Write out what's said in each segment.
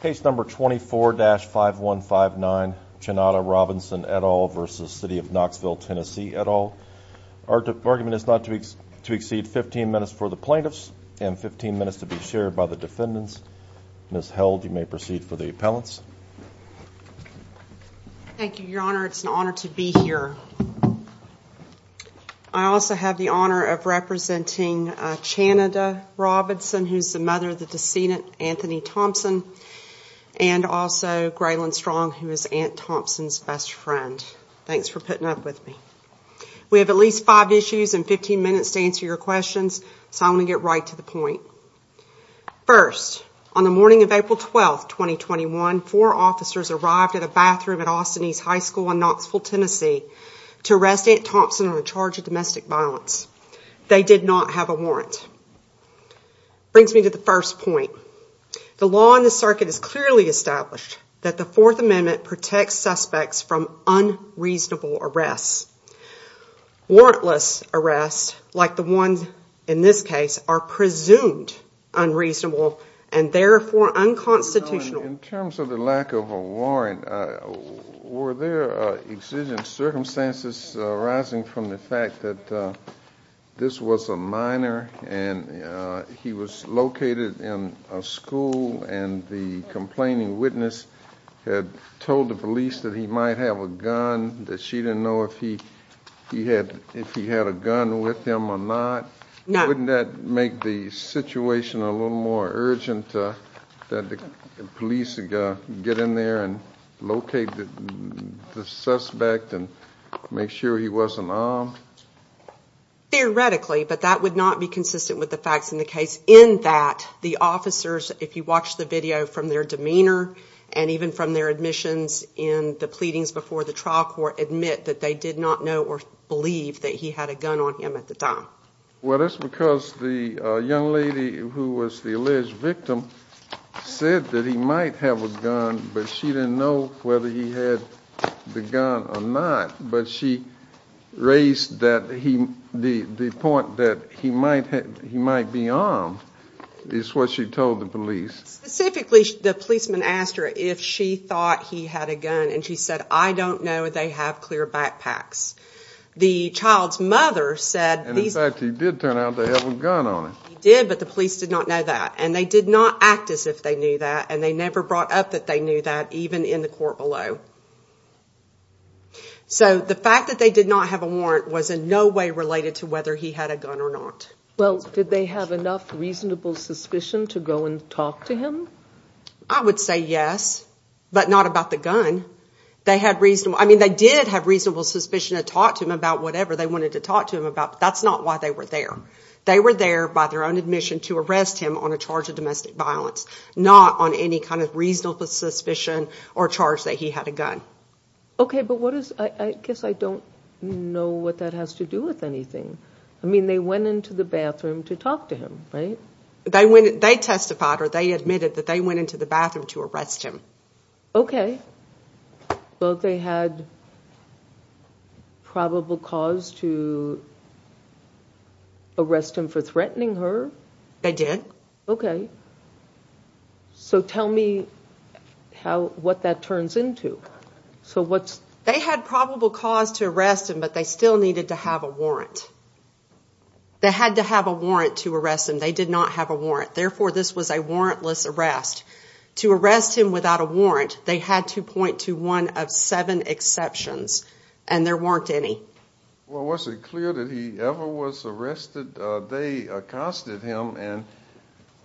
Case number 24-5159, Chanada Robinson et al. v. City of Knoxville, TN et al. Our argument is not to exceed 15 minutes for the plaintiffs and 15 minutes to be shared by the defendants. Ms. Held, you may proceed for the appellants. Thank you, Your Honor. It's an honor to be here. I also have the honor of representing Chanada Robinson, who is the mother of the decedent, Anthony Thompson, and also Graylyn Strong, who is Aunt Thompson's best friend. Thanks for putting up with me. We have at least five issues and 15 minutes to answer your questions, so I'm going to get right to the point. First, on the morning of April 12, 2021, four officers arrived at a bathroom at Austin East High School in Knoxville, TN to arrest Aunt Thompson on a charge of domestic violence. They did not have a warrant. Brings me to the first point. The law in the circuit is clearly established that the Fourth Amendment protects suspects from unreasonable arrests. Warrantless arrests, like the ones in this case, are presumed unreasonable and therefore unconstitutional. In terms of the lack of a warrant, were there exigent circumstances arising from the fact that this was a minor and he was located in a school and the complaining witness had told the police that he might have a gun, that she didn't know if he had a gun with him or not? Wouldn't that make the situation a little more urgent that the police get in there and locate the suspect and make sure he wasn't armed? Theoretically, but that would not be consistent with the facts in the case in that the officers, if you watch the video, from their demeanor and even from their admissions in the pleadings before the trial court, admit that they did not know or believe that he had a gun on him at the time. Well, that's because the young lady who was the alleged victim said that he might have a gun, but she didn't know whether he had the gun or not. But she raised the point that he might be armed is what she told the police. Specifically, the policeman asked her if she thought he had a gun and she said, I don't know if they have clear backpacks. And in fact, he did turn out to have a gun on him. He did, but the police did not know that and they did not act as if they knew that and they never brought up that they knew that, even in the court below. So the fact that they did not have a warrant was in no way related to whether he had a gun or not. Well, did they have enough reasonable suspicion to go and talk to him? I would say yes, but not about the gun. I mean, they did have reasonable suspicion to talk to him about whatever they wanted to talk to him about, but that's not why they were there. They were there by their own admission to arrest him on a charge of domestic violence, not on any kind of reasonable suspicion or charge that he had a gun. Okay, but I guess I don't know what that has to do with anything. I mean, they went into the bathroom to talk to him, right? They testified or they admitted that they went into the bathroom to arrest him. Okay. Well, they had probable cause to arrest him for threatening her? They did. So tell me what that turns into. They had probable cause to arrest him, but they still needed to have a warrant. They had to have a warrant to arrest him. They did not have a warrant. Therefore, this was a warrantless arrest. To arrest him without a warrant, they had to point to one of seven exceptions, and there weren't any. Well, was it clear that he ever was arrested? They accosted him, and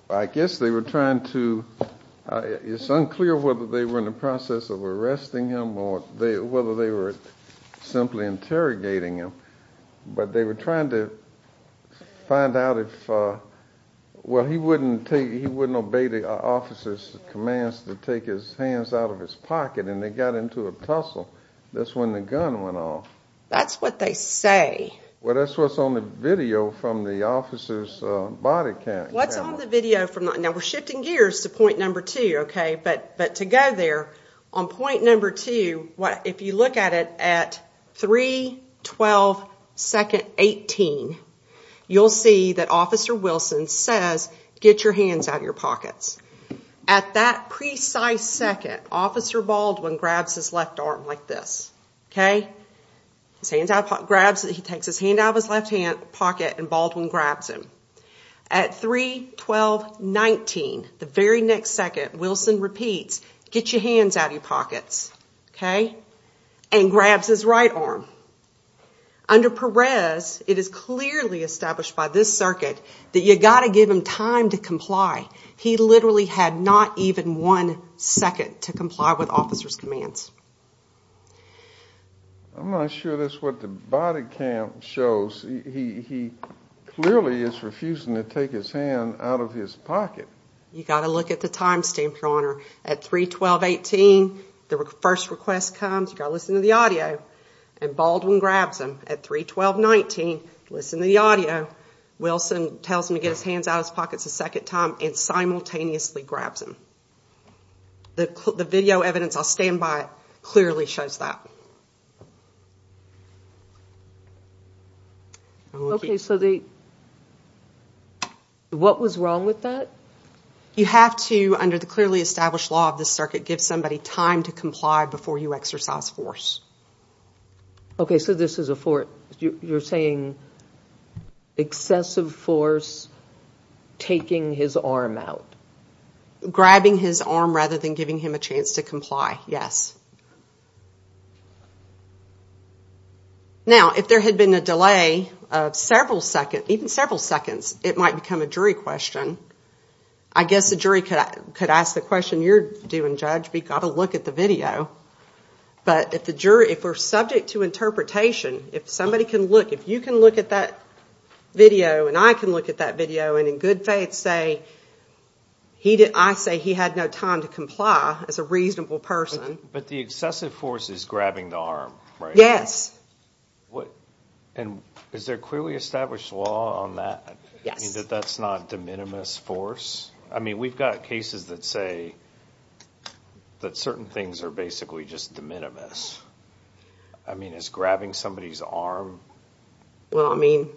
I guess they were trying to – it's unclear whether they were in the process of arresting him or whether they were simply interrogating him, but they were trying to find out if – well, he wouldn't obey the officer's commands to take his hands out of his pocket, and they got into a tussle. That's when the gun went off. That's what they say. Well, that's what's on the video from the officer's body camera. What's on the video from the – now, we're shifting gears to point number two, okay? But to go there, on point number two, if you look at it at 3-12-2-18, you'll see that Officer Wilson says, get your hands out of your pockets. At that precise second, Officer Baldwin grabs his left arm like this, okay? He takes his hand out of his left pocket, and Baldwin grabs him. At 3-12-19, the very next second, Wilson repeats, get your hands out of your pockets, okay, and grabs his right arm. Under Perez, it is clearly established by this circuit that you've got to give him time to comply. He literally had not even one second to comply with officer's commands. I'm not sure that's what the body cam shows. He clearly is refusing to take his hand out of his pocket. You've got to look at the time stamp, Your Honor. At 3-12-18, the first request comes. You've got to listen to the audio, and Baldwin grabs him. At 3-12-19, listen to the audio. Wilson tells him to get his hands out of his pockets a second time and simultaneously grabs him. The video evidence on standby clearly shows that. Okay, so what was wrong with that? You have to, under the clearly established law of this circuit, give somebody time to comply before you exercise force. Okay, so this is a force. You're saying excessive force, taking his arm out. Grabbing his arm rather than giving him a chance to comply, yes. Now, if there had been a delay of several seconds, even several seconds, it might become a jury question. I guess the jury could ask the question you're doing, Judge, but you've got to look at the video. But if we're subject to interpretation, if somebody can look, if you can look at that video and I can look at that video, and in good faith say, I say he had no time to comply as a reasonable person. But the excessive force is grabbing the arm, right? Yes. And is there clearly established law on that? Yes. That that's not de minimis force? I mean, we've got cases that say that certain things are basically just de minimis. I mean, is grabbing somebody's arm? Well, I mean,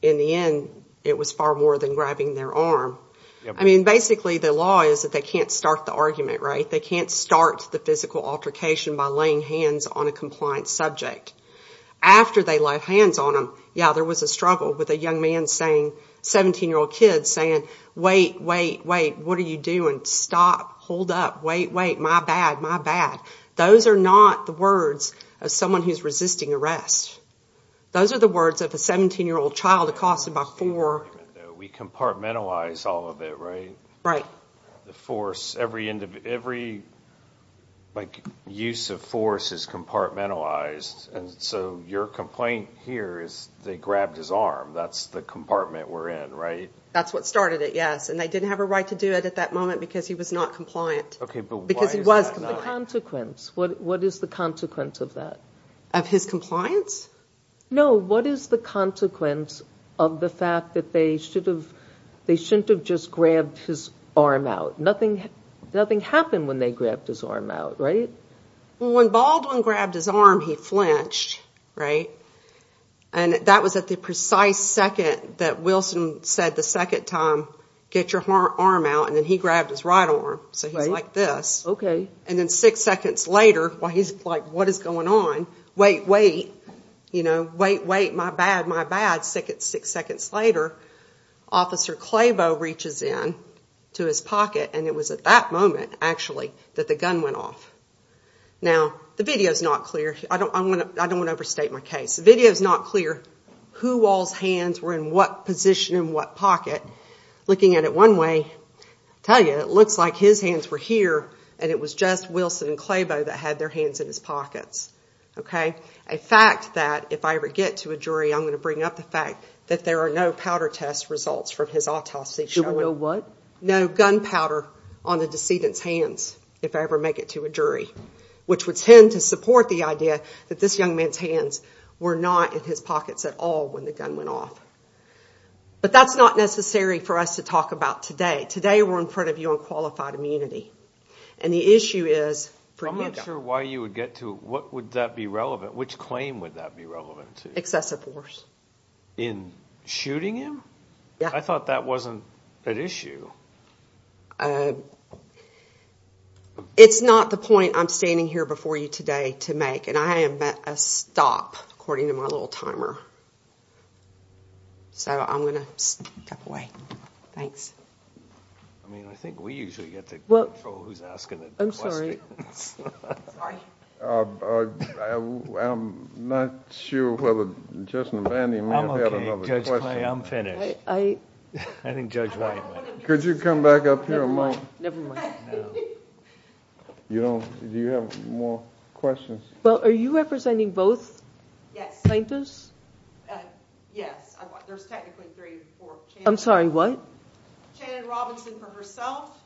in the end, it was far more than grabbing their arm. I mean, basically the law is that they can't start the argument, right? They can't start the physical altercation by laying hands on a compliant subject. After they laid hands on him, yeah, there was a struggle with a young man saying, 17-year-old kid saying, wait, wait, wait, what are you doing? Stop, hold up, wait, wait, my bad, my bad. Those are not the words of someone who's resisting arrest. Those are the words of a 17-year-old child accosted by four. We compartmentalize all of it, right? The force, every use of force is compartmentalized. And so your complaint here is they grabbed his arm. That's the compartment we're in, right? That's what started it, yes. And they didn't have a right to do it at that moment because he was not compliant. Okay, but why is that? Because he was. What's the consequence? What is the consequence of that? Of his compliance? No, what is the consequence of the fact that they shouldn't have just grabbed his arm out? Nothing happened when they grabbed his arm out, right? Well, when Baldwin grabbed his arm, he flinched, right? And that was at the precise second that Wilson said the second time, get your arm out, and then he grabbed his right arm. So he's like this. And then six seconds later, while he's like, what is going on? Wait, wait, you know, wait, wait, my bad, my bad. Six seconds later, Officer Clabo reaches in to his pocket, and it was at that moment, actually, that the gun went off. Now, the video's not clear. I don't want to overstate my case. The video's not clear who all's hands were in what position in what pocket. Looking at it one way, I tell you, it looks like his hands were here, and it was just Wilson and Clabo that had their hands in his pockets, okay? A fact that if I ever get to a jury, I'm going to bring up the fact that there are no powder test results from his autopsy showing. No gun powder on the decedent's hands if I ever make it to a jury, which would tend to support the idea that this young man's hands were not in his pockets at all when the gun went off. But that's not necessary for us to talk about today. Today, we're in front of you on qualified immunity, and the issue is freedom. I'm not sure why you would get to it. What would that be relevant? Which claim would that be relevant to? Excessive force. In shooting him? Yeah. I thought that wasn't at issue. It's not the point I'm standing here before you today to make, and I am at a stop according to my little timer. So I'm going to step away. Thanks. I mean, I think we usually get to control who's asking the question. Sorry. I'm not sure whether Justin and Vandy might have had another question. I'm okay, Judge Clay. I'm finished. I think Judge White might have. Could you come back up here a moment? Never mind. Never mind. Do you have more questions? Well, are you representing both plaintiffs? Yes. Yes. There's technically three or four. I'm sorry. What? Shannon Robinson for herself,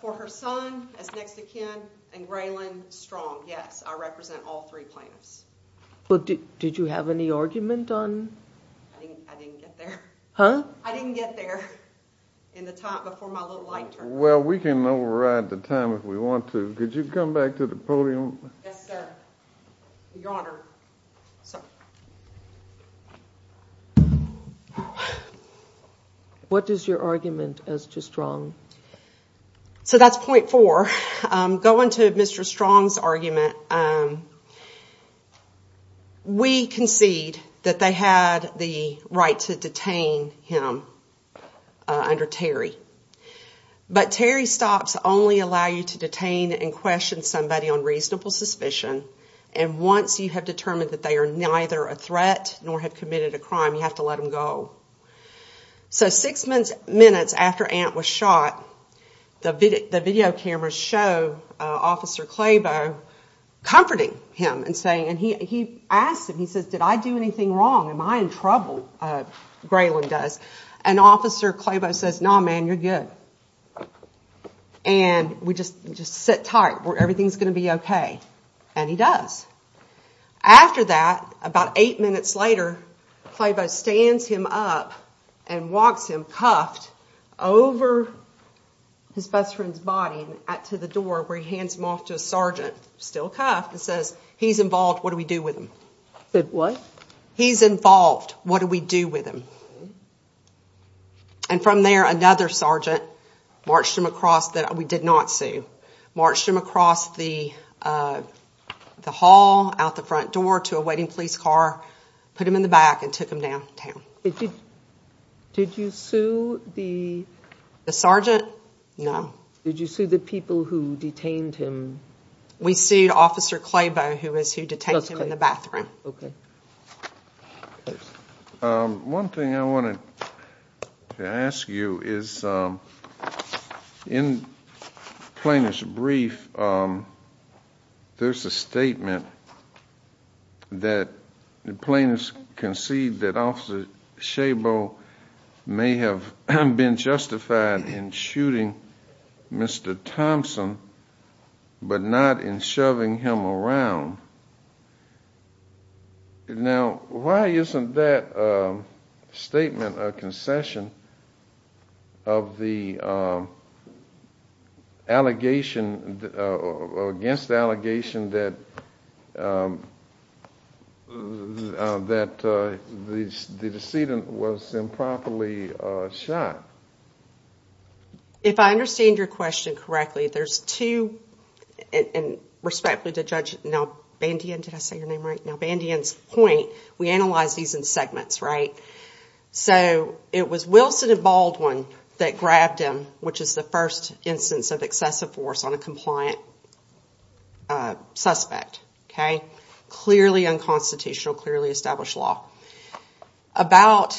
for her son, as next of kin, and Graylin Strong. Yes. I represent all three plaintiffs. Did you have any argument on? I didn't get there. Huh? I didn't get there in the time before my little light turned on. Well, we can override the time if we want to. Could you come back to the podium? Yes, sir. Your Honor. Sorry. What is your argument as to Strong? So that's point four. Going to Mr. Strong's argument, we concede that they had the right to detain him under Terry. But Terry stops only allow you to detain and question somebody on reasonable suspicion. And once you have determined that they are neither a threat nor have committed a crime, you have to let them go. So six minutes after Ant was shot, the video cameras show Officer Clabo comforting him and saying, and he asks him, he says, did I do anything wrong? Am I in trouble? Graylin does. And Officer Clabo says, no, man, you're good. And we just sit tight. Everything's going to be okay. And he does. After that, about eight minutes later, Clabo stands him up and walks him cuffed over his best friend's body to the door where he hands him off to a sergeant, still cuffed, and says, he's involved. What do we do with him? He said, what? He's involved. What do we do with him? And from there, another sergeant marched him across that we did not see, marched him across the hall, out the front door to a waiting police car, put him in the back and took him downtown. Did you sue the? The sergeant? No. Did you sue the people who detained him? We sued Officer Clabo, who was who detained him in the bathroom. One thing I wanted to ask you is, in Plaintiff's brief, there's a statement that the plaintiffs concede that Officer Clabo may have been justified in shooting Mr. Thompson, but not in shoving him around. Now, why isn't that statement a concession of the allegation, against the allegation that the decedent was improperly shot? If I understand your question correctly, there's two, and respectfully to Judge Nalbandian, did I say your name right? Nalbandian's point, we analyze these in segments, right? So, it was Wilson and Baldwin that grabbed him, which is the first instance of excessive force on a compliant suspect. Clearly unconstitutional, clearly established law. About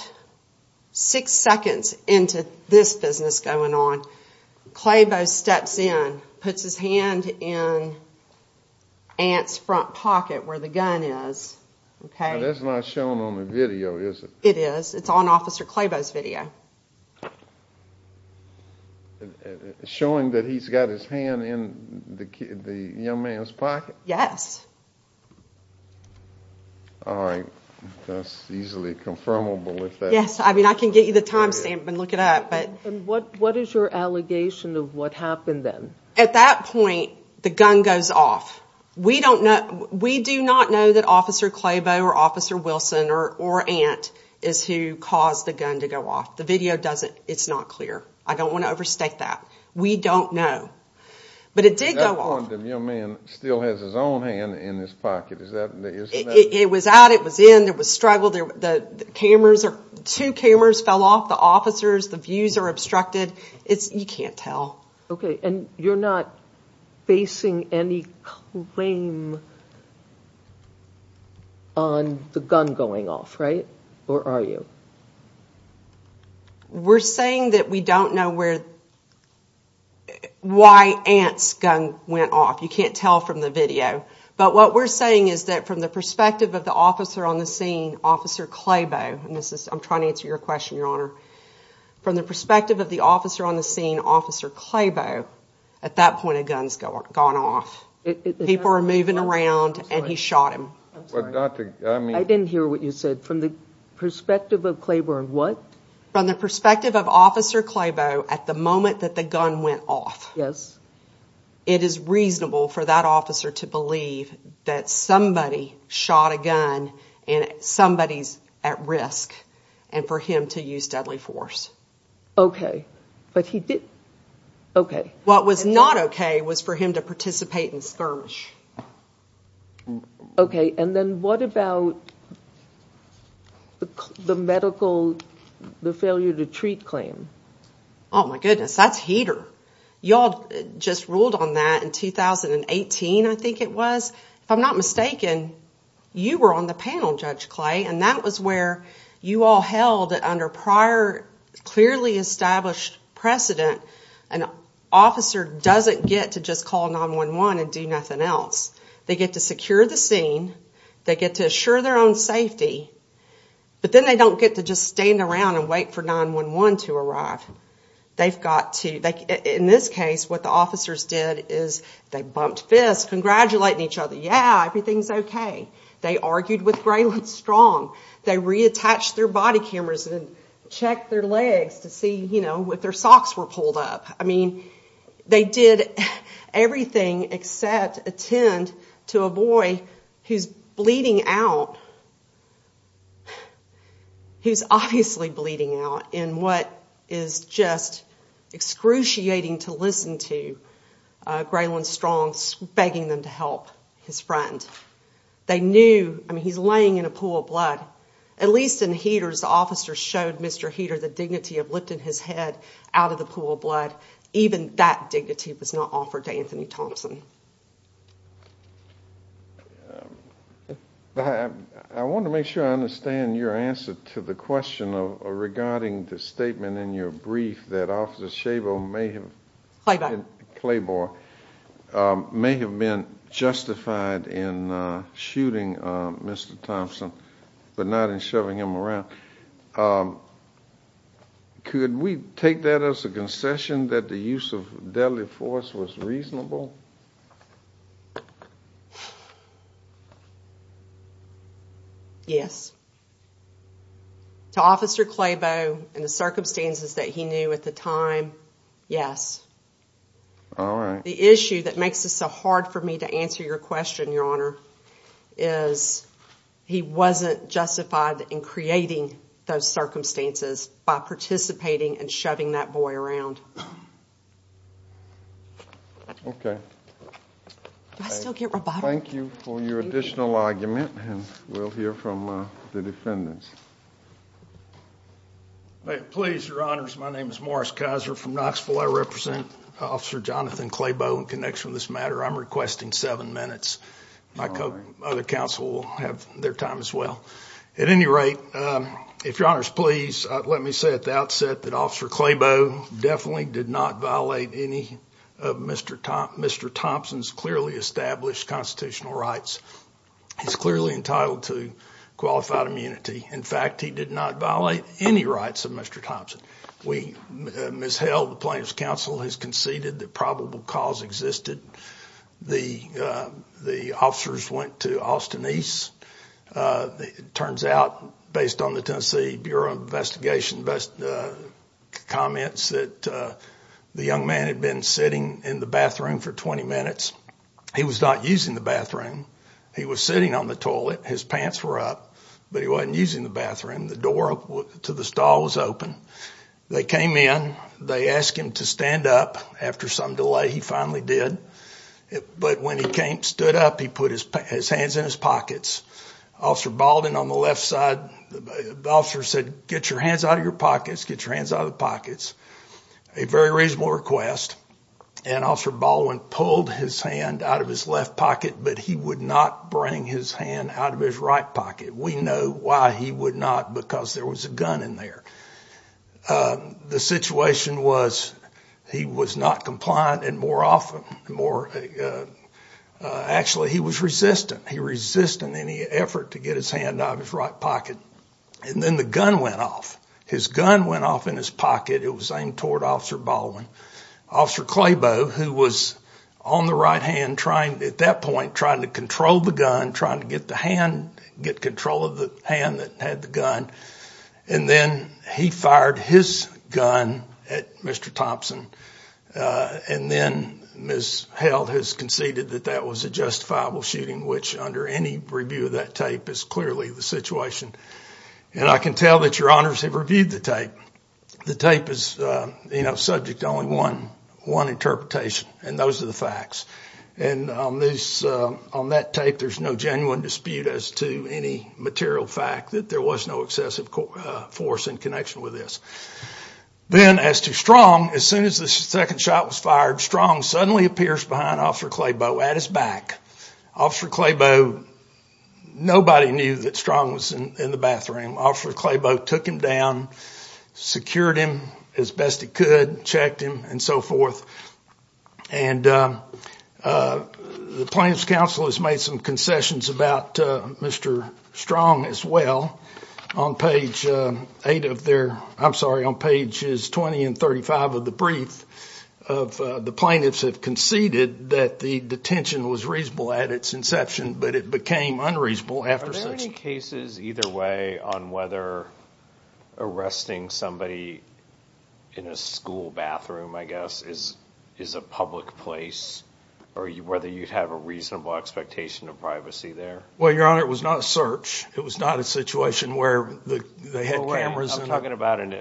six seconds into this business going on, Clabo steps in, puts his hand in Ant's front pocket where the gun is. That's not shown on the video, is it? It is. It's on Officer Clabo's video. Showing that he's got his hand in the young man's pocket? Yes. All right. That's easily confirmable with that. Yes. I mean, I can get you the time stamp and look it up. And what is your allegation of what happened then? At that point, the gun goes off. We do not know that Officer Clabo or Officer Wilson or Ant is who caused the gun to go off. The video doesn't. It's not clear. I don't want to overstate that. We don't know. But it did go off. At that point, the young man still has his own hand in his pocket. It was out, it was in, there was struggle. Two cameras fell off, the officers, the views are obstructed. You can't tell. Okay. And you're not facing any claim on the gun going off, right? Or are you? We're saying that we don't know why Ant's gun went off. You can't tell from the video. But what we're saying is that from the perspective of the officer on the scene, Officer Clabo, and I'm trying to answer your question, Your Honor, from the perspective of the officer on the scene, Officer Clabo, at that point a gun's gone off. People are moving around and he shot him. I didn't hear what you said. From the perspective of Clabo of what? From the perspective of Officer Clabo, at the moment that the gun went off, it is reasonable for that officer to believe that somebody shot a gun and somebody's at risk and for him to use deadly force. Okay. But he did, okay. What was not okay was for him to participate in skirmish. Okay. And then what about the medical, the failure to treat claim? Oh my goodness, that's heater. Y'all just ruled on that in 2018, I think it was. If I'm not mistaken, you were on the panel, Judge Clay, and that was where you all held that under prior clearly established precedent, an officer doesn't get to just call 911 and do nothing else. They get to secure the scene. They get to assure their own safety. But then they don't get to just stand around and wait for 911 to arrive. They've got to, in this case, what the officers did is they bumped fists, just congratulating each other, yeah, everything's okay. They argued with Graylin Strong. They reattached their body cameras and checked their legs to see, you know, if their socks were pulled up. I mean, they did everything except attend to a boy who's bleeding out, who's obviously bleeding out in what is just excruciating to listen to. Graylin Strong's begging them to help his friend. They knew, I mean, he's laying in a pool of blood. At least in Heaters, the officers showed Mr. Heater the dignity of lifting his head out of the pool of blood. Even that dignity was not offered to Anthony Thompson. I want to make sure I understand your answer to the question regarding the statement in your brief that Officer Chabot may have been justified in shooting Mr. Thompson but not in shoving him around. Could we take that as a concession that the use of deadly force was reasonable? Yes. To Officer Chabot and the circumstances that he knew at the time, yes. All right. The issue that makes this so hard for me to answer your question, Your Honor, is he wasn't justified in creating those circumstances by participating and shoving that boy around. Okay. Do I still get rebuttal? Thank you for your additional argument, and we'll hear from the defendants. Please, Your Honors, my name is Morris Kaiser from Knoxville. I represent Officer Jonathan Clabo in connection with this matter. I'm requesting seven minutes. My other counsel will have their time as well. At any rate, if Your Honors please, let me say at the outset that Officer Clabo definitely did not violate any of Mr. Thompson's clearly established constitutional rights. He's clearly entitled to qualified immunity. In fact, he did not violate any rights of Mr. Thompson. We misheld the plaintiff's counsel and conceded that probable cause existed. The officers went to Austin East. It turns out, based on the Tennessee Bureau of Investigation comments, that the young man had been sitting in the bathroom for 20 minutes. He was not using the bathroom. He was sitting on the toilet. His pants were up, but he wasn't using the bathroom. The door to the stall was open. They came in. They asked him to stand up. After some delay, he finally did. But when he stood up, he put his hands in his pockets. Officer Baldwin, on the left side, the officer said, get your hands out of your pockets. Get your hands out of the pockets. A very reasonable request. And Officer Baldwin pulled his hand out of his left pocket, but he would not bring his hand out of his right pocket. We know why he would not, because there was a gun in there. The situation was, he was not compliant and more often, actually, he was resistant. He resisted any effort to get his hand out of his right pocket. And then the gun went off. His gun went off in his pocket. It was aimed toward Officer Baldwin. Officer Clabo, who was on the right hand, at that point trying to control the gun, trying to get control of the hand that had the gun, and then he fired his gun at Mr. Thompson. And then Ms. Held has conceded that that was a justifiable shooting, which under any review of that tape is clearly the situation. And I can tell that your honors have reviewed the tape. The tape is subject to only one interpretation, and those are the facts. And on that tape, there's no genuine dispute as to any material fact that there was no excessive force in connection with this. Then as to Strong, as soon as the second shot was fired, Strong suddenly appears behind Officer Clabo at his back. Officer Clabo, nobody knew that Strong was in the bathroom. Officer Clabo took him down, secured him as best he could, checked him, and so forth. And the Plaintiff's Counsel has made some concessions about Mr. Strong as well. On page 8 of their—I'm sorry, on pages 20 and 35 of the brief, the plaintiffs have conceded that the detention was reasonable at its inception, but it became unreasonable after such— Are there any cases either way on whether arresting somebody in a school bathroom, I guess, is a public place, or whether you'd have a reasonable expectation of privacy there? Well, your honor, it was not a search. It was not a situation where they had cameras and— I'm talking about an—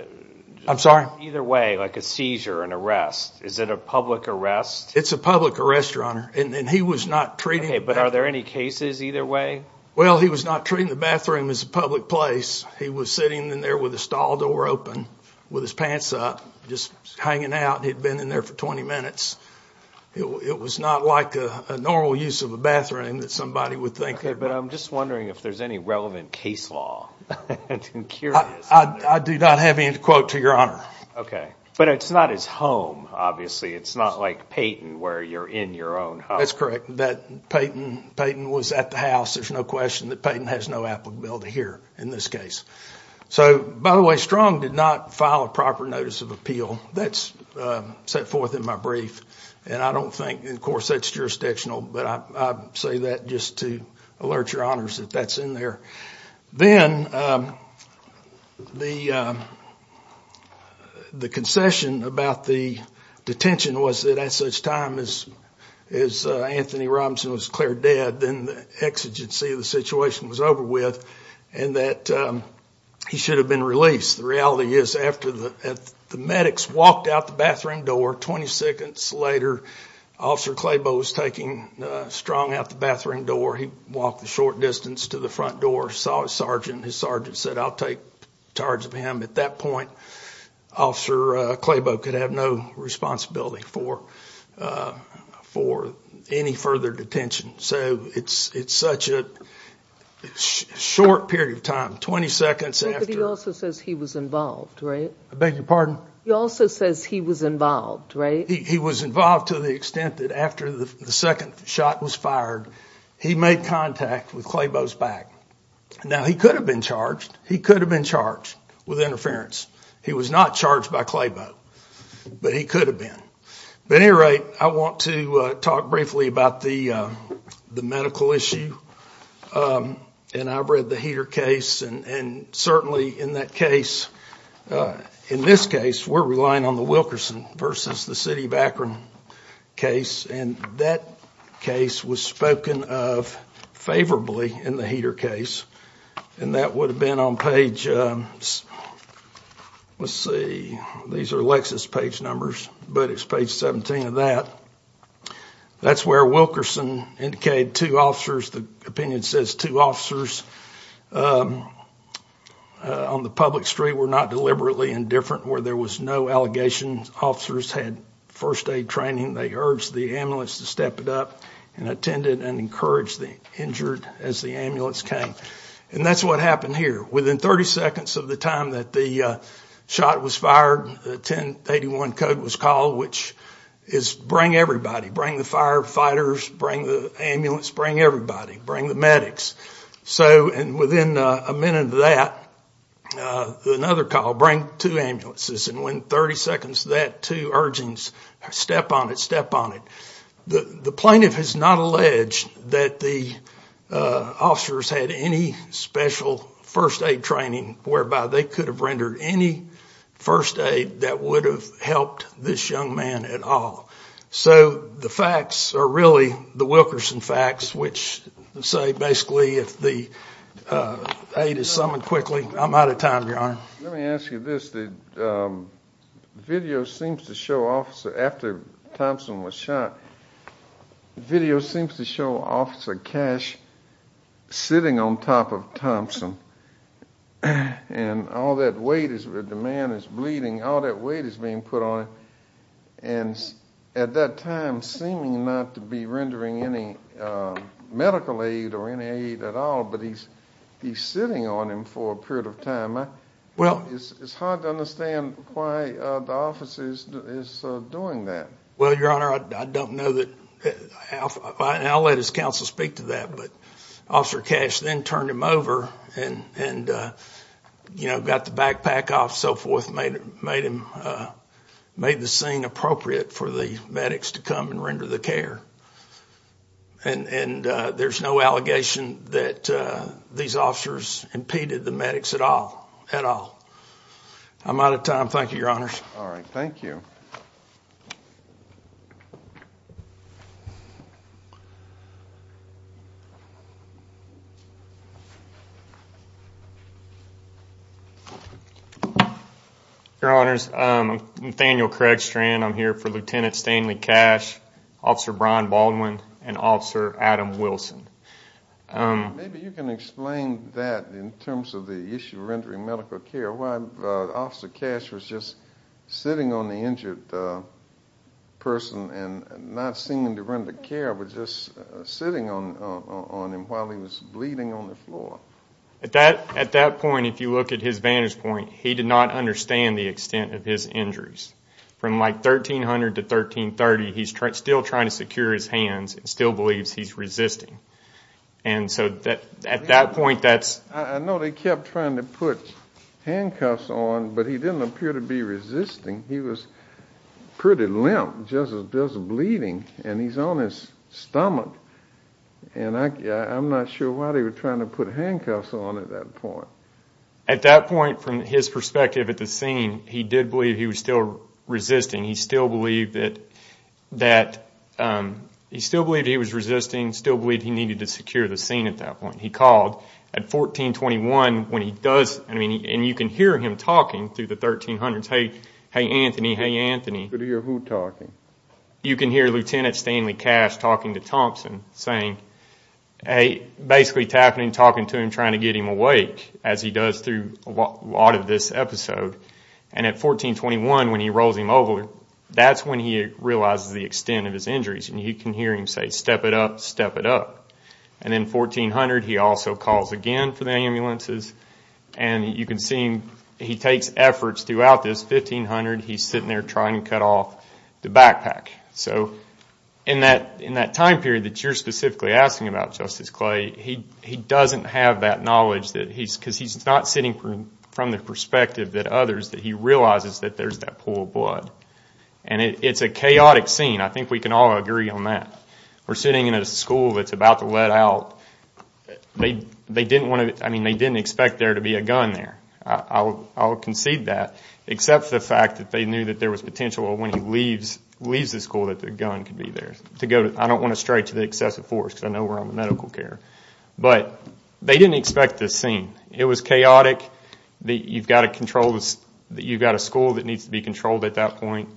I'm sorry? Either way, like a seizure, an arrest. Is it a public arrest? It's a public arrest, your honor. And he was not treating— Okay, but are there any cases either way? Well, he was not treating the bathroom as a public place. He was sitting in there with the stall door open, with his pants up, just hanging out. He'd been in there for 20 minutes. It was not like a normal use of a bathroom that somebody would think of. Okay, but I'm just wondering if there's any relevant case law. I'm curious. I do not have any, quote, to your honor. Okay. But it's not his home, obviously. It's not like Payton, where you're in your own home. That's correct. Payton was at the house. There's no question that Payton has no applicability here in this case. So, by the way, Strong did not file a proper notice of appeal. That's set forth in my brief, and I don't think, of course, that's jurisdictional, but I say that just to alert your honors that that's in there. Then the concession about the detention was that at such time as Anthony Robinson was declared dead, then the exigency of the situation was over with and that he should have been released. The reality is after the medics walked out the bathroom door, 20 seconds later, Officer Clabo was taking Strong out the bathroom door. He walked a short distance to the front door, saw his sergeant. His sergeant said, I'll take charge of him. At that point, Officer Clabo could have no responsibility for any further detention. So it's such a short period of time, 20 seconds after. But he also says he was involved, right? I beg your pardon? He also says he was involved, right? He was involved to the extent that after the second shot was fired, he made contact with Clabo's back. Now, he could have been charged. He could have been charged with interference. He was not charged by Clabo, but he could have been. At any rate, I want to talk briefly about the medical issue, and I've read the Heater case, and certainly in that case, in this case, we're relying on the Wilkerson versus the City of Akron case, and that case was spoken of favorably in the Heater case, and that would have been on page, let's see, these are Lexis page numbers, but it's page 17 of that. That's where Wilkerson indicated two officers. The opinion says two officers on the public street were not deliberately indifferent, where there was no allegation. Officers had first aid training. They urged the ambulance to step it up and attended and encouraged the injured as the ambulance came. And that's what happened here. Within 30 seconds of the time that the shot was fired, the 1081 code was called, which is bring everybody. Bring the firefighters, bring the ambulance, bring everybody. Bring the medics. And within a minute of that, another call, bring two ambulances, and within 30 seconds of that, two urgings, step on it, step on it. The plaintiff has not alleged that the officers had any special first aid training whereby they could have rendered any first aid that would have helped this young man at all. So the facts are really the Wilkerson facts, which say basically if the aid is summoned quickly. I'm out of time, Your Honor. Let me ask you this. The video seems to show Officer, after Thompson was shot, the video seems to show Officer Cash sitting on top of Thompson, and all that weight, the man is bleeding, all that weight is being put on him. And at that time, seeming not to be rendering any medical aid or any aid at all, but he's sitting on him for a period of time. It's hard to understand why the officer is doing that. Well, Your Honor, I don't know. I'll let his counsel speak to that, but Officer Cash then turned him over and got the backpack off and so forth, made the scene appropriate for the medics to come and render the care. And there's no allegation that these officers impeded the medics at all. I'm out of time. Thank you, Your Honors. All right. Thank you. Your Honors, I'm Nathaniel Craigstrand. I'm here for Lieutenant Stanley Cash, Officer Brian Baldwin, and Officer Adam Wilson. Maybe you can explain that in terms of the issue of rendering medical care, why Officer Cash was just sitting on the injured person and not seeming to render care, but just sitting on him while he was bleeding on the floor. At that point, if you look at his vantage point, he did not understand the extent of his injuries. From like 1300 to 1330, he's still trying to secure his hands and still believes he's resisting. And so at that point, that's— I know they kept trying to put handcuffs on, but he didn't appear to be resisting. He was pretty limp, just bleeding, and he's on his stomach. And I'm not sure why they were trying to put handcuffs on at that point. At that point, from his perspective at the scene, he did believe he was still resisting. He still believed that he was resisting, still believed he needed to secure the scene at that point. He called at 1421 when he does—and you can hear him talking through the 1300s, saying, hey, Anthony, hey, Anthony. You can hear who talking? You can hear Lieutenant Stanley Cash talking to Thompson, saying— basically tapping and talking to him, trying to get him awake, as he does through a lot of this episode. And at 1421, when he rolls him over, that's when he realizes the extent of his injuries. And you can hear him say, step it up, step it up. And then 1400, he also calls again for the ambulances. And you can see he takes efforts throughout this. 1500, he's sitting there trying to cut off the backpack. So in that time period that you're specifically asking about, Justice Clay, he doesn't have that knowledge because he's not sitting from the perspective that others, that he realizes that there's that pool of blood. And it's a chaotic scene. I think we can all agree on that. We're sitting in a school that's about to let out. They didn't want to—I mean, they didn't expect there to be a gun there. I'll concede that, except for the fact that they knew that there was potential when he leaves the school that the gun could be there. I don't want to stray to the excessive force because I know we're on medical care. But they didn't expect this scene. It was chaotic. You've got a school that needs to be controlled at that point.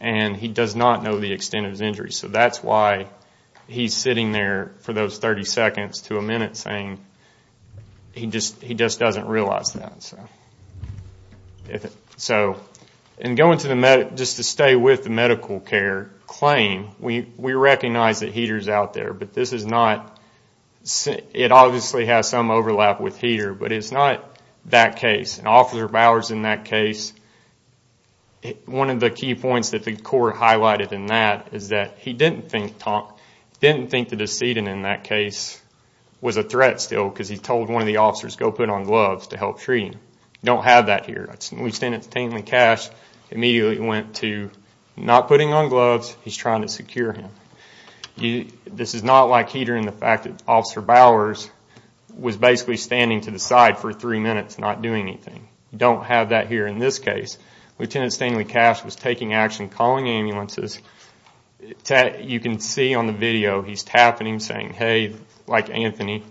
And he does not know the extent of his injuries. So that's why he's sitting there for those 30 seconds to a minute saying he just doesn't realize that. And going to the—just to stay with the medical care claim, we recognize that Heater's out there, but this is not— it obviously has some overlap with Heater, but it's not that case. And Officer Bowers in that case, one of the key points that the court highlighted in that is that he didn't think the decedent in that case was a threat still because he told one of the officers go put on gloves to help treat him. You don't have that here. Lieutenant Stanley Cash immediately went to not putting on gloves. He's trying to secure him. This is not like Heater in the fact that Officer Bowers was basically standing to the side for three minutes not doing anything. You don't have that here in this case. Lieutenant Stanley Cash was taking action, calling ambulances. You can see on the video he's tapping him saying, hey, like Anthony.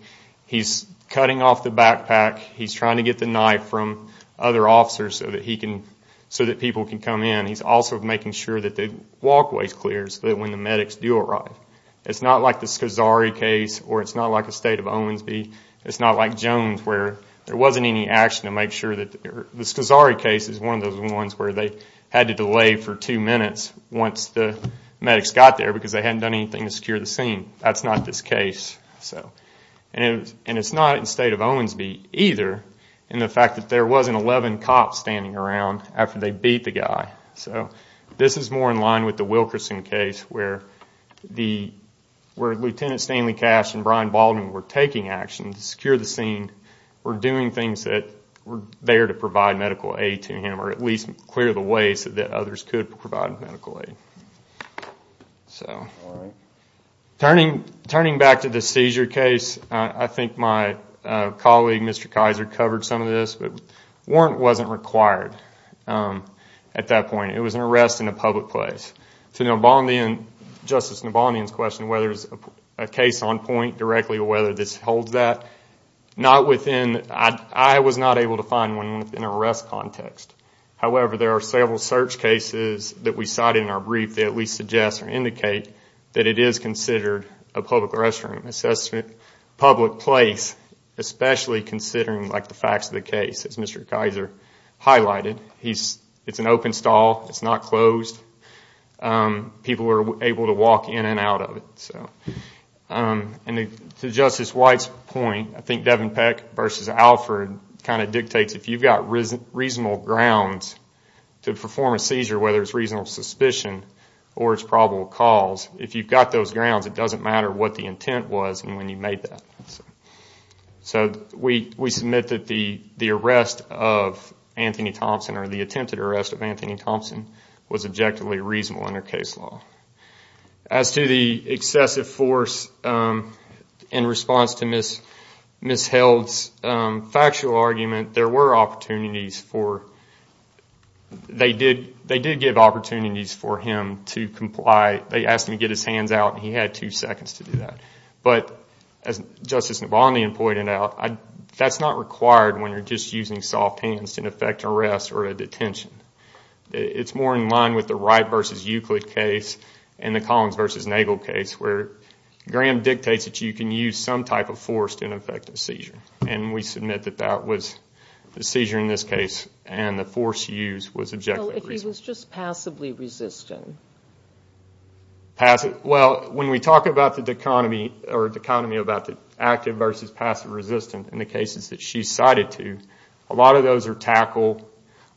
He's cutting off the backpack. He's trying to get the knife from other officers so that he can—so that people can come in. He's also making sure that the walkways clear so that when the medics do arrive. It's not like the Scazzari case or it's not like the state of Owensby. It's not like Jones where there wasn't any action to make sure that— The Scazzari case is one of those ones where they had to delay for two minutes once the medics got there because they hadn't done anything to secure the scene. That's not this case. And it's not in the state of Owensby either in the fact that there wasn't 11 cops standing around after they beat the guy. So this is more in line with the Wilkerson case where Lieutenant Stanley Cash and Brian Baldwin were taking action to secure the scene, were doing things that were there to provide medical aid to him or at least clear the way so that others could provide medical aid. Turning back to the seizure case, I think my colleague, Mr. Kaiser, covered some of this, but warrant wasn't required at that point. It was an arrest in a public place. To Justice Nobondian's question whether there's a case on point directly or whether this holds that, I was not able to find one in an arrest context. However, there are several search cases that we cited in our brief that we suggest or indicate that it is considered a public restroom assessment, public place, especially considering the facts of the case, as Mr. Kaiser highlighted. It's an open stall. It's not closed. People were able to walk in and out of it. To Justice White's point, I think Devin Peck versus Alford kind of dictates if you've got reasonable grounds to perform a seizure, whether it's reasonable suspicion or it's probable cause, if you've got those grounds, it doesn't matter what the intent was and when you made that. So we submit that the arrest of Anthony Thompson or the attempted arrest of Anthony Thompson was objectively reasonable under case law. As to the excessive force in response to Ms. Held's factual argument, there were opportunities for, they did give opportunities for him to comply. They asked him to get his hands out and he had two seconds to do that. But as Justice Nobondian pointed out, that's not required when you're just using soft hands to effect an arrest or a detention. It's more in line with the Wright versus Euclid case and the Collins versus Nagel case where Graham dictates that you can use some type of force to effect a seizure. And we submit that that was the seizure in this case and the force used was objectively reasonable. So if he was just passively resistant? Well, when we talk about the dichotomy about the active versus passive resistant in the cases that she's cited to, a lot of those are tackled.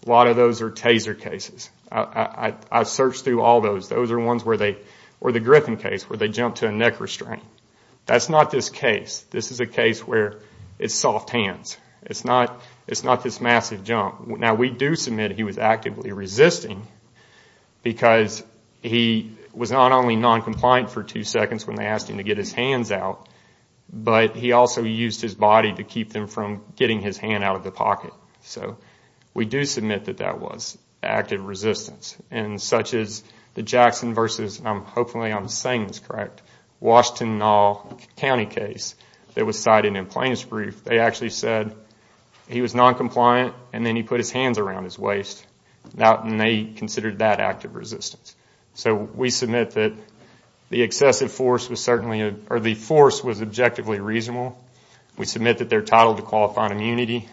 A lot of those are taser cases. I've searched through all those. Those are ones where they, or the Griffin case, where they jump to a neck restraint. That's not this case. This is a case where it's soft hands. It's not this massive jump. Now, we do submit he was actively resisting because he was not only noncompliant for two seconds when they asked him to get his hands out, but he also used his body to keep them from getting his hand out of the pocket. So we do submit that that was active resistance. And such as the Jackson versus, and hopefully I'm saying this correct, Washtenaw County case that was cited in plaintiff's brief, they actually said he was noncompliant and then he put his hands around his waist. And they considered that active resistance. So we submit that the excessive force was certainly, or the force was objectively reasonable. We submit that they're titled to qualified immunity.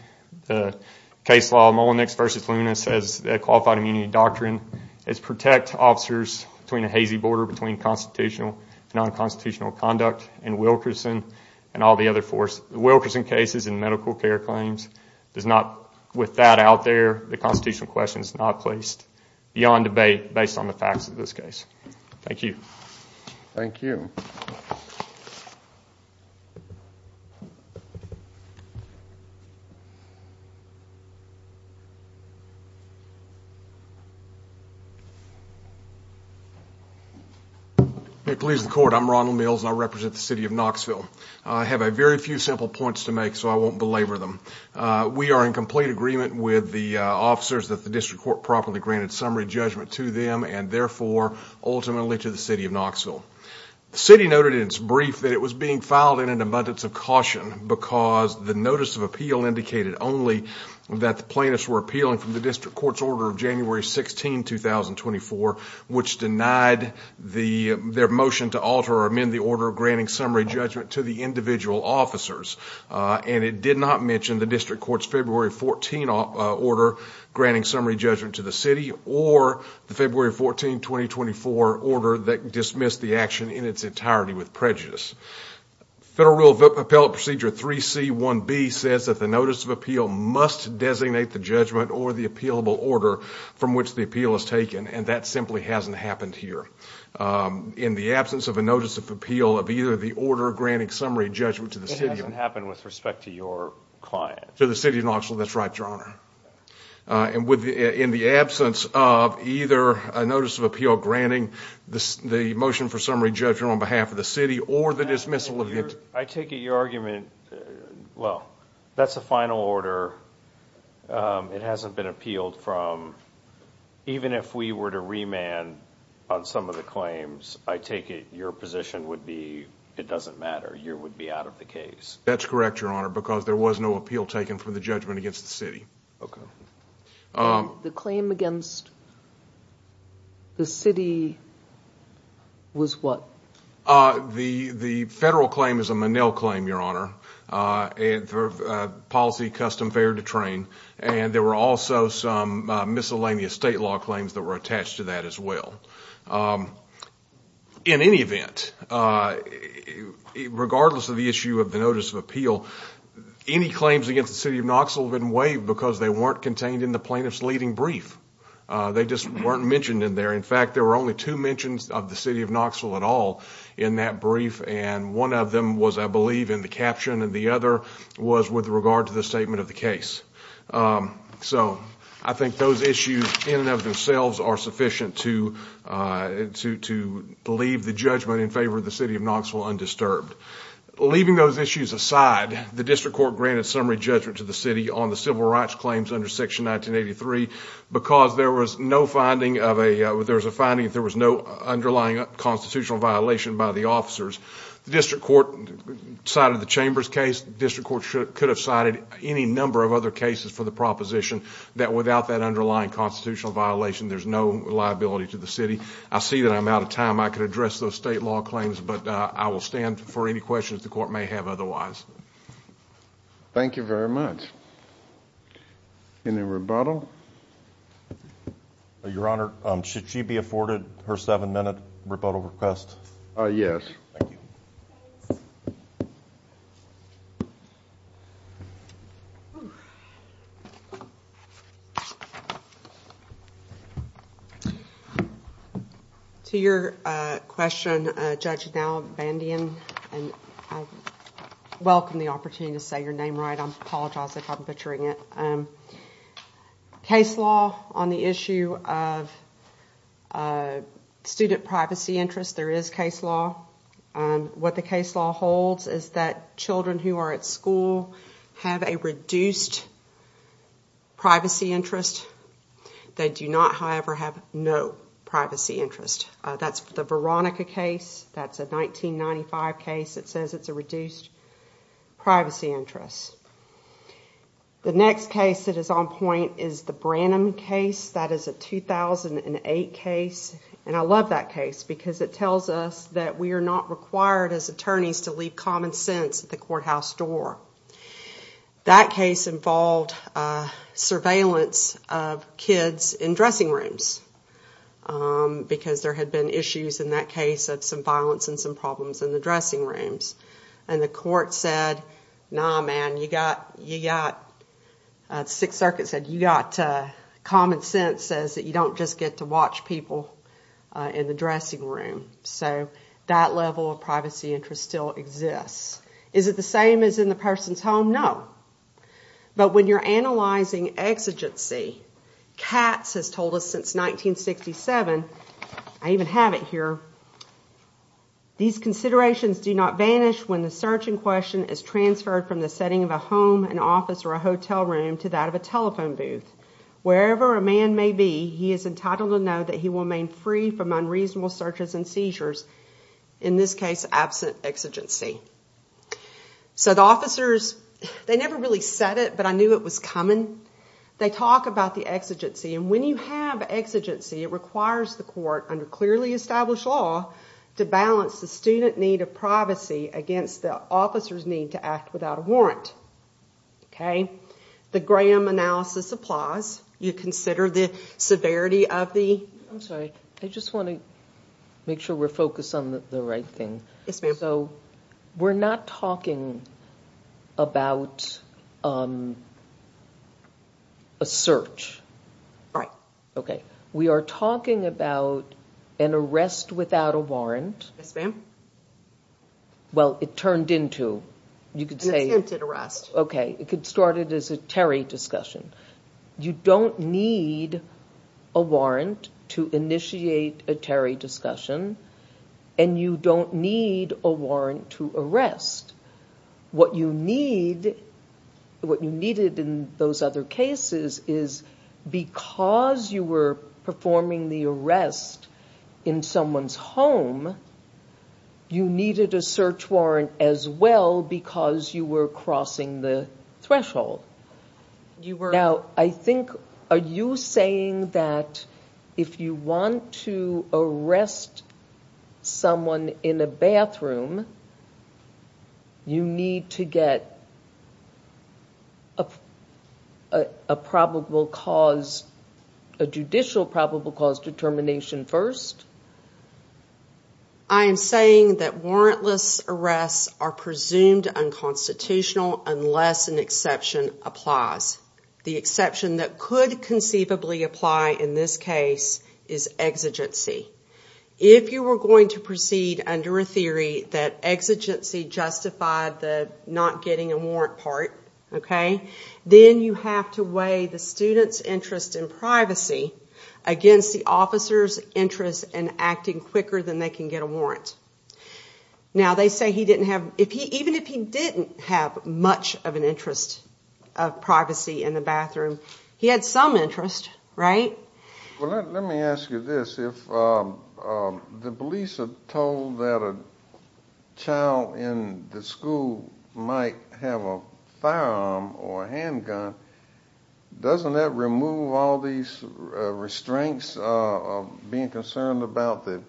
The case law, Mullenix versus Luna, says qualified immunity doctrine is protect officers between a hazy border between constitutional and nonconstitutional conduct and Wilkerson and all the other force. The Wilkerson case is in medical care claims. There's not, with that out there, the constitutional question is not placed beyond debate based on the facts of this case. Thank you. Thank you. Hey, police and court. I'm Ronald Mills and I represent the city of Knoxville. I have a very few simple points to make so I won't belabor them. We are in complete agreement with the officers that the district court properly granted summary judgment to them and therefore ultimately to the city of Knoxville. The city noted in its brief that it was being filed in an abundance of caution because the notice of appeal indicated only that the plaintiffs were appealing from the district court's order of January 16, 2024, which denied their motion to alter or amend the order of granting summary judgment to the individual officers. And it did not mention the district court's February 14 order granting summary judgment to the city or the February 14, 2024 order that dismissed the action in its entirety with prejudice. Federal Rule of Appellate Procedure 3C1B says that the notice of appeal must designate the judgment or the appealable order from which the appeal is taken. And that simply hasn't happened here. In the absence of a notice of appeal of either the order of granting summary judgment to the city of Knoxville. It hasn't happened with respect to your client. To the city of Knoxville, that's right, Your Honor. And in the absence of either a notice of appeal granting the motion for summary judgment on behalf of the city or the dismissal. I take it your argument, well, that's a final order. It hasn't been appealed from, even if we were to remand on some of the claims, I take it your position would be it doesn't matter. You would be out of the case. That's correct, Your Honor, because there was no appeal taken from the judgment against the city. Okay. The claim against the city was what? The federal claim is a Menil claim, Your Honor. Policy custom fair to train. And there were also some miscellaneous state law claims that were attached to that as well. In any event, regardless of the issue of the notice of appeal, any claims against the city of Knoxville have been waived because they weren't contained in the plaintiff's leading brief. They just weren't mentioned in there. In fact, there were only two mentions of the city of Knoxville at all in that brief. And one of them was, I believe, in the caption, and the other was with regard to the statement of the case. So I think those issues in and of themselves are sufficient to leave the judgment in favor of the city of Knoxville undisturbed. Leaving those issues aside, the district court granted summary judgment to the city on the civil rights claims under Section 1983 because there was a finding that there was no underlying constitutional violation by the officers. The district court cited the Chambers case. The district court could have cited any number of other cases for the proposition that without that underlying constitutional violation, there's no liability to the city. I see that I'm out of time. I could address those state law claims, but I will stand for any questions the court may have otherwise. Thank you very much. Any rebuttal? Your Honor, should she be afforded her seven-minute rebuttal request? Yes. Thank you. To your question, Judge Van Dien, I welcome the opportunity to say your name right. I apologize if I'm butchering it. Case law on the issue of student privacy interest, there is case law. What the case law holds is that children who are at school have a reduced privacy interest. They do not, however, have no privacy interest. That's the Veronica case. That's a 1995 case. It says it's a reduced privacy interest. The next case that is on point is the Branham case. That is a 2008 case, and I love that case because it tells us that we are not required as attorneys to leave common sense at the courthouse door. That case involved surveillance of kids in dressing rooms because there had been issues in that case of some violence and some problems in the dressing rooms. The court said, no, man, you got common sense says that you don't just get to watch people in the dressing room. That level of privacy interest still exists. Is it the same as in the person's home? No. But when you're analyzing exigency, Katz has told us since 1967, I even have it here, these considerations do not vanish when the search in question is transferred from the setting of a home, an office, or a hotel room to that of a telephone booth. Wherever a man may be, he is entitled to know that he will remain free from unreasonable searches and seizures, in this case, absent exigency. The officers never really said it, but I knew it was coming. They talk about the exigency, and when you have exigency, it requires the court under clearly established law to balance the student need of privacy against the officer's need to act without a warrant. The Graham analysis applies. You consider the severity of the- I'm sorry. I just want to make sure we're focused on the right thing. So we're not talking about a search. Right. Okay. We are talking about an arrest without a warrant. Yes, ma'am. Well, it turned into, you could say- An attempted arrest. Okay. It started as a Terry discussion. You don't need a warrant to initiate a Terry discussion, and you don't need a warrant to arrest. What you needed in those other cases is, because you were performing the arrest in someone's home, you needed a search warrant as well because you were crossing the threshold. You were- Now, I think, are you saying that if you want to arrest someone in a bathroom, you need to get a probable cause, a judicial probable cause determination first? I am saying that warrantless arrests are presumed unconstitutional unless an exception applies. The exception that could conceivably apply in this case is exigency. If you were going to proceed under a theory that exigency justified the not getting a warrant part, then you have to weigh the student's interest in privacy against the officer's interest in acting quicker than they can get a warrant. Now, they say he didn't have- Even if he didn't have much of an interest of privacy in the bathroom, he had some interest, right? Well, let me ask you this. If the police are told that a child in the school might have a firearm or a handgun, doesn't that remove all these restraints of being concerned about the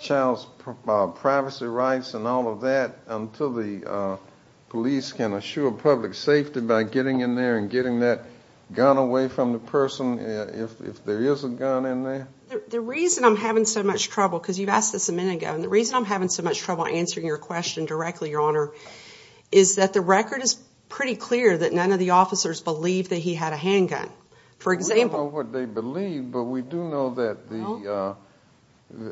child's privacy rights and all of that until the police can assure public safety by getting in there and getting that gun away from the person? If there is a gun in there? The reason I'm having so much trouble, because you've asked this a minute ago, and the reason I'm having so much trouble answering your question directly, Your Honor, is that the record is pretty clear that none of the officers believe that he had a handgun. For example- We don't know what they believe, but we do know that the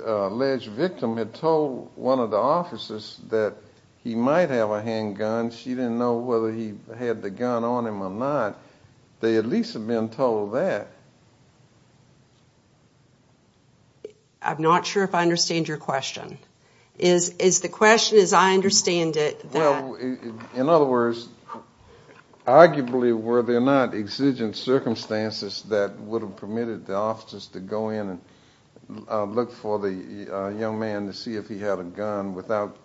alleged victim had told one of the officers that he might have a handgun. She didn't know whether he had the gun on him or not. They at least have been told that. I'm not sure if I understand your question. Is the question, as I understand it, that- Well, in other words, arguably were there not exigent circumstances that would have permitted the officers to go in and look for the young man to see if he had a gun without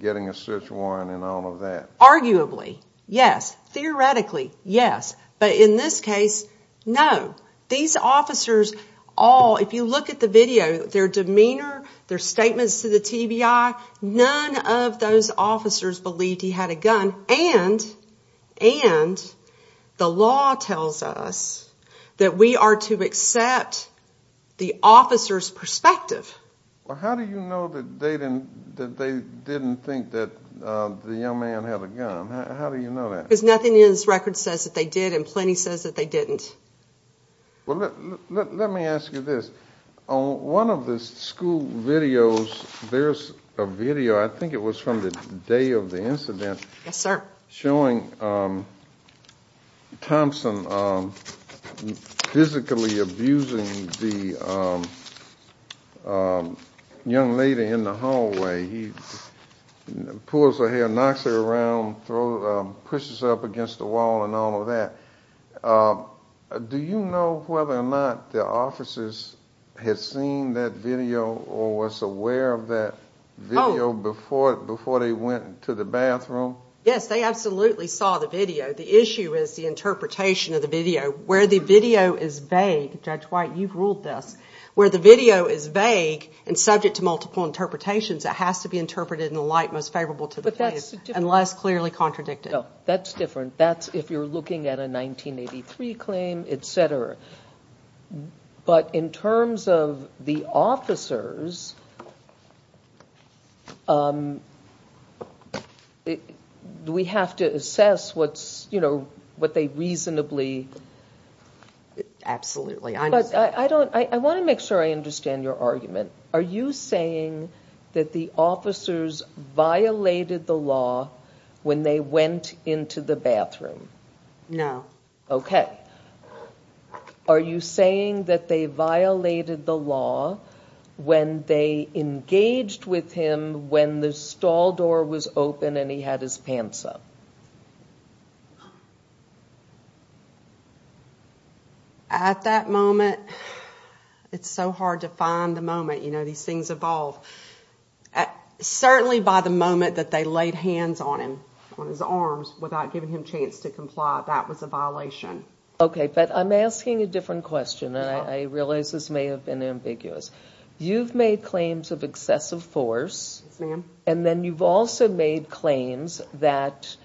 getting a search warrant and all of that? Arguably, yes. Theoretically, yes. But in this case, no. These officers all, if you look at the video, their demeanor, their statements to the TBI, none of those officers believed he had a gun, and the law tells us that we are to accept the officer's perspective. How do you know that they didn't think that the young man had a gun? How do you know that? Because nothing in this record says that they did, and plenty says that they didn't. Well, let me ask you this. On one of the school videos, there's a video, I think it was from the day of the incident- Yes, sir. Showing Thompson physically abusing the young lady in the hallway. He pulls her hair, knocks her around, pushes her up against the wall and all of that. Do you know whether or not the officers had seen that video or was aware of that video before they went to the bathroom? Yes, they absolutely saw the video. The issue is the interpretation of the video. Where the video is vague, Judge White, you've ruled this, where the video is vague and subject to multiple interpretations, it has to be interpreted in a light most favorable to the case and less clearly contradicted. No, that's different. That's if you're looking at a 1983 claim, etc. But in terms of the officers, do we have to assess what they reasonably- Absolutely. I want to make sure I understand your argument. Are you saying that the officers violated the law when they went into the bathroom? No. Okay. Are you saying that they violated the law when they engaged with him when the stall door was open and he had his pants up? At that moment, it's so hard to find the moment. You know, these things evolve. Certainly by the moment that they laid hands on him, on his arms, without giving him a chance to comply, that was a violation. Okay, but I'm asking a different question. I realize this may have been ambiguous. You've made claims of excessive force. Yes, ma'am. And then you've also made claims that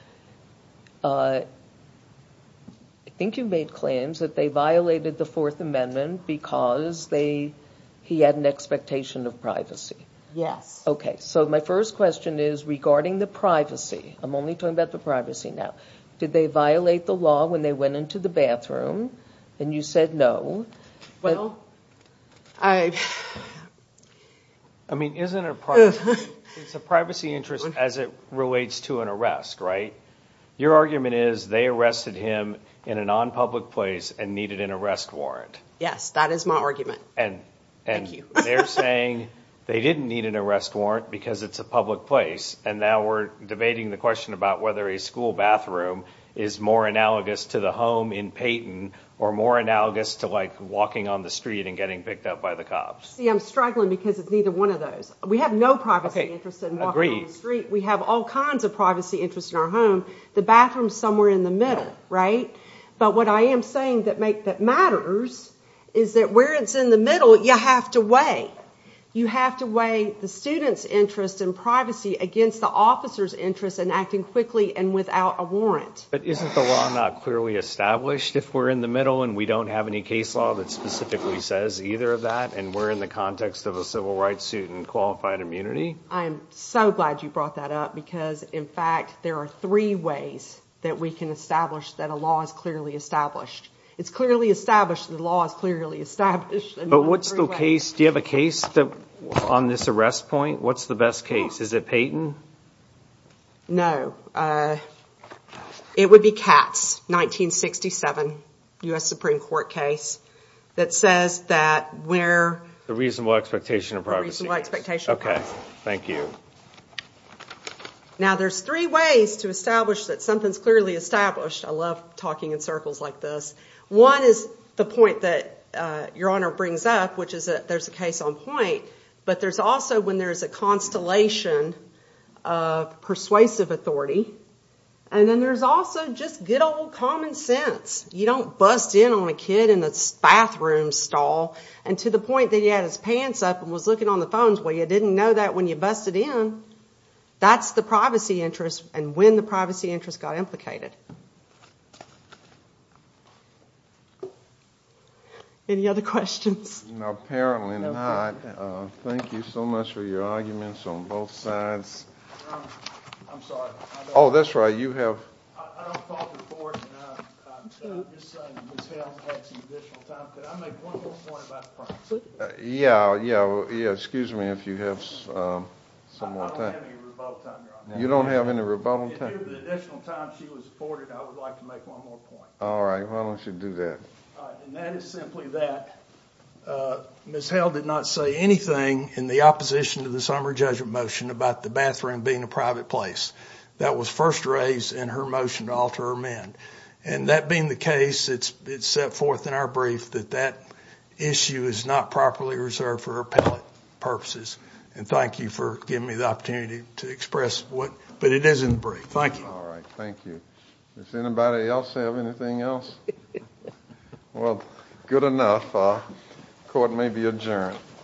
they violated the Fourth Amendment because he had an expectation of privacy. Yes. Okay, so my first question is regarding the privacy. I'm only talking about the privacy now. Did they violate the law when they went into the bathroom and you said no? Well, I- I mean, isn't it a privacy interest as it relates to an arrest, right? Your argument is they arrested him in a non-public place and needed an arrest warrant. Yes, that is my argument. And they're saying they didn't need an arrest warrant because it's a public place, and now we're debating the question about whether a school bathroom is more analogous to the home in Payton or more analogous to, like, walking on the street and getting picked up by the cops. See, I'm struggling because it's neither one of those. We have no privacy interest in walking on the street. We have all kinds of privacy interests in our home. The bathroom's somewhere in the middle, right? But what I am saying that matters is that where it's in the middle, you have to weigh. You have to weigh the student's interest in privacy against the officer's interest in acting quickly and without a warrant. But isn't the law not clearly established if we're in the middle and we don't have any case law that specifically says either of that and we're in the context of a civil rights suit and qualified immunity? I am so glad you brought that up because, in fact, there are three ways that we can establish that a law is clearly established. It's clearly established that a law is clearly established. But what's the case? Do you have a case on this arrest point? What's the best case? Is it Payton? No. It would be Katz, 1967, U.S. Supreme Court case that says that where— The reasonable expectation of privacy. The reasonable expectation of privacy. Okay. Thank you. Now, there's three ways to establish that something's clearly established. I love talking in circles like this. One is the point that Your Honor brings up, which is that there's a case on point, but there's also when there's a constellation of persuasive authority, and then there's also just good old common sense. You don't bust in on a kid in a bathroom stall and to the point that he had his pants up and was looking on the phones. Well, you didn't know that when you busted in. That's the privacy interest and when the privacy interest got implicated. Any other questions? No, apparently not. Thank you so much for your arguments on both sides. Your Honor, I'm sorry. Oh, that's right. You have— I don't fault the court. I'm just saying Ms. Hales had some additional time. Could I make one more point about privacy? Yeah, yeah. Yeah, excuse me if you have some more time. I don't have any rebuttal time, Your Honor. You don't have any rebuttal time? Due to the additional time she was afforded, I would like to make one more point. All right. Why don't you do that? And that is simply that Ms. Hales did not say anything in the opposition to the summary judgment motion about the bathroom being a private place. That was first raised in her motion to alter her men. And that being the case, it's set forth in our brief that that issue is not properly reserved for appellate purposes. And thank you for giving me the opportunity to express what— but it is in the brief. Thank you. All right. Thank you. Does anybody else have anything else? Well, good enough. Court may be adjourned.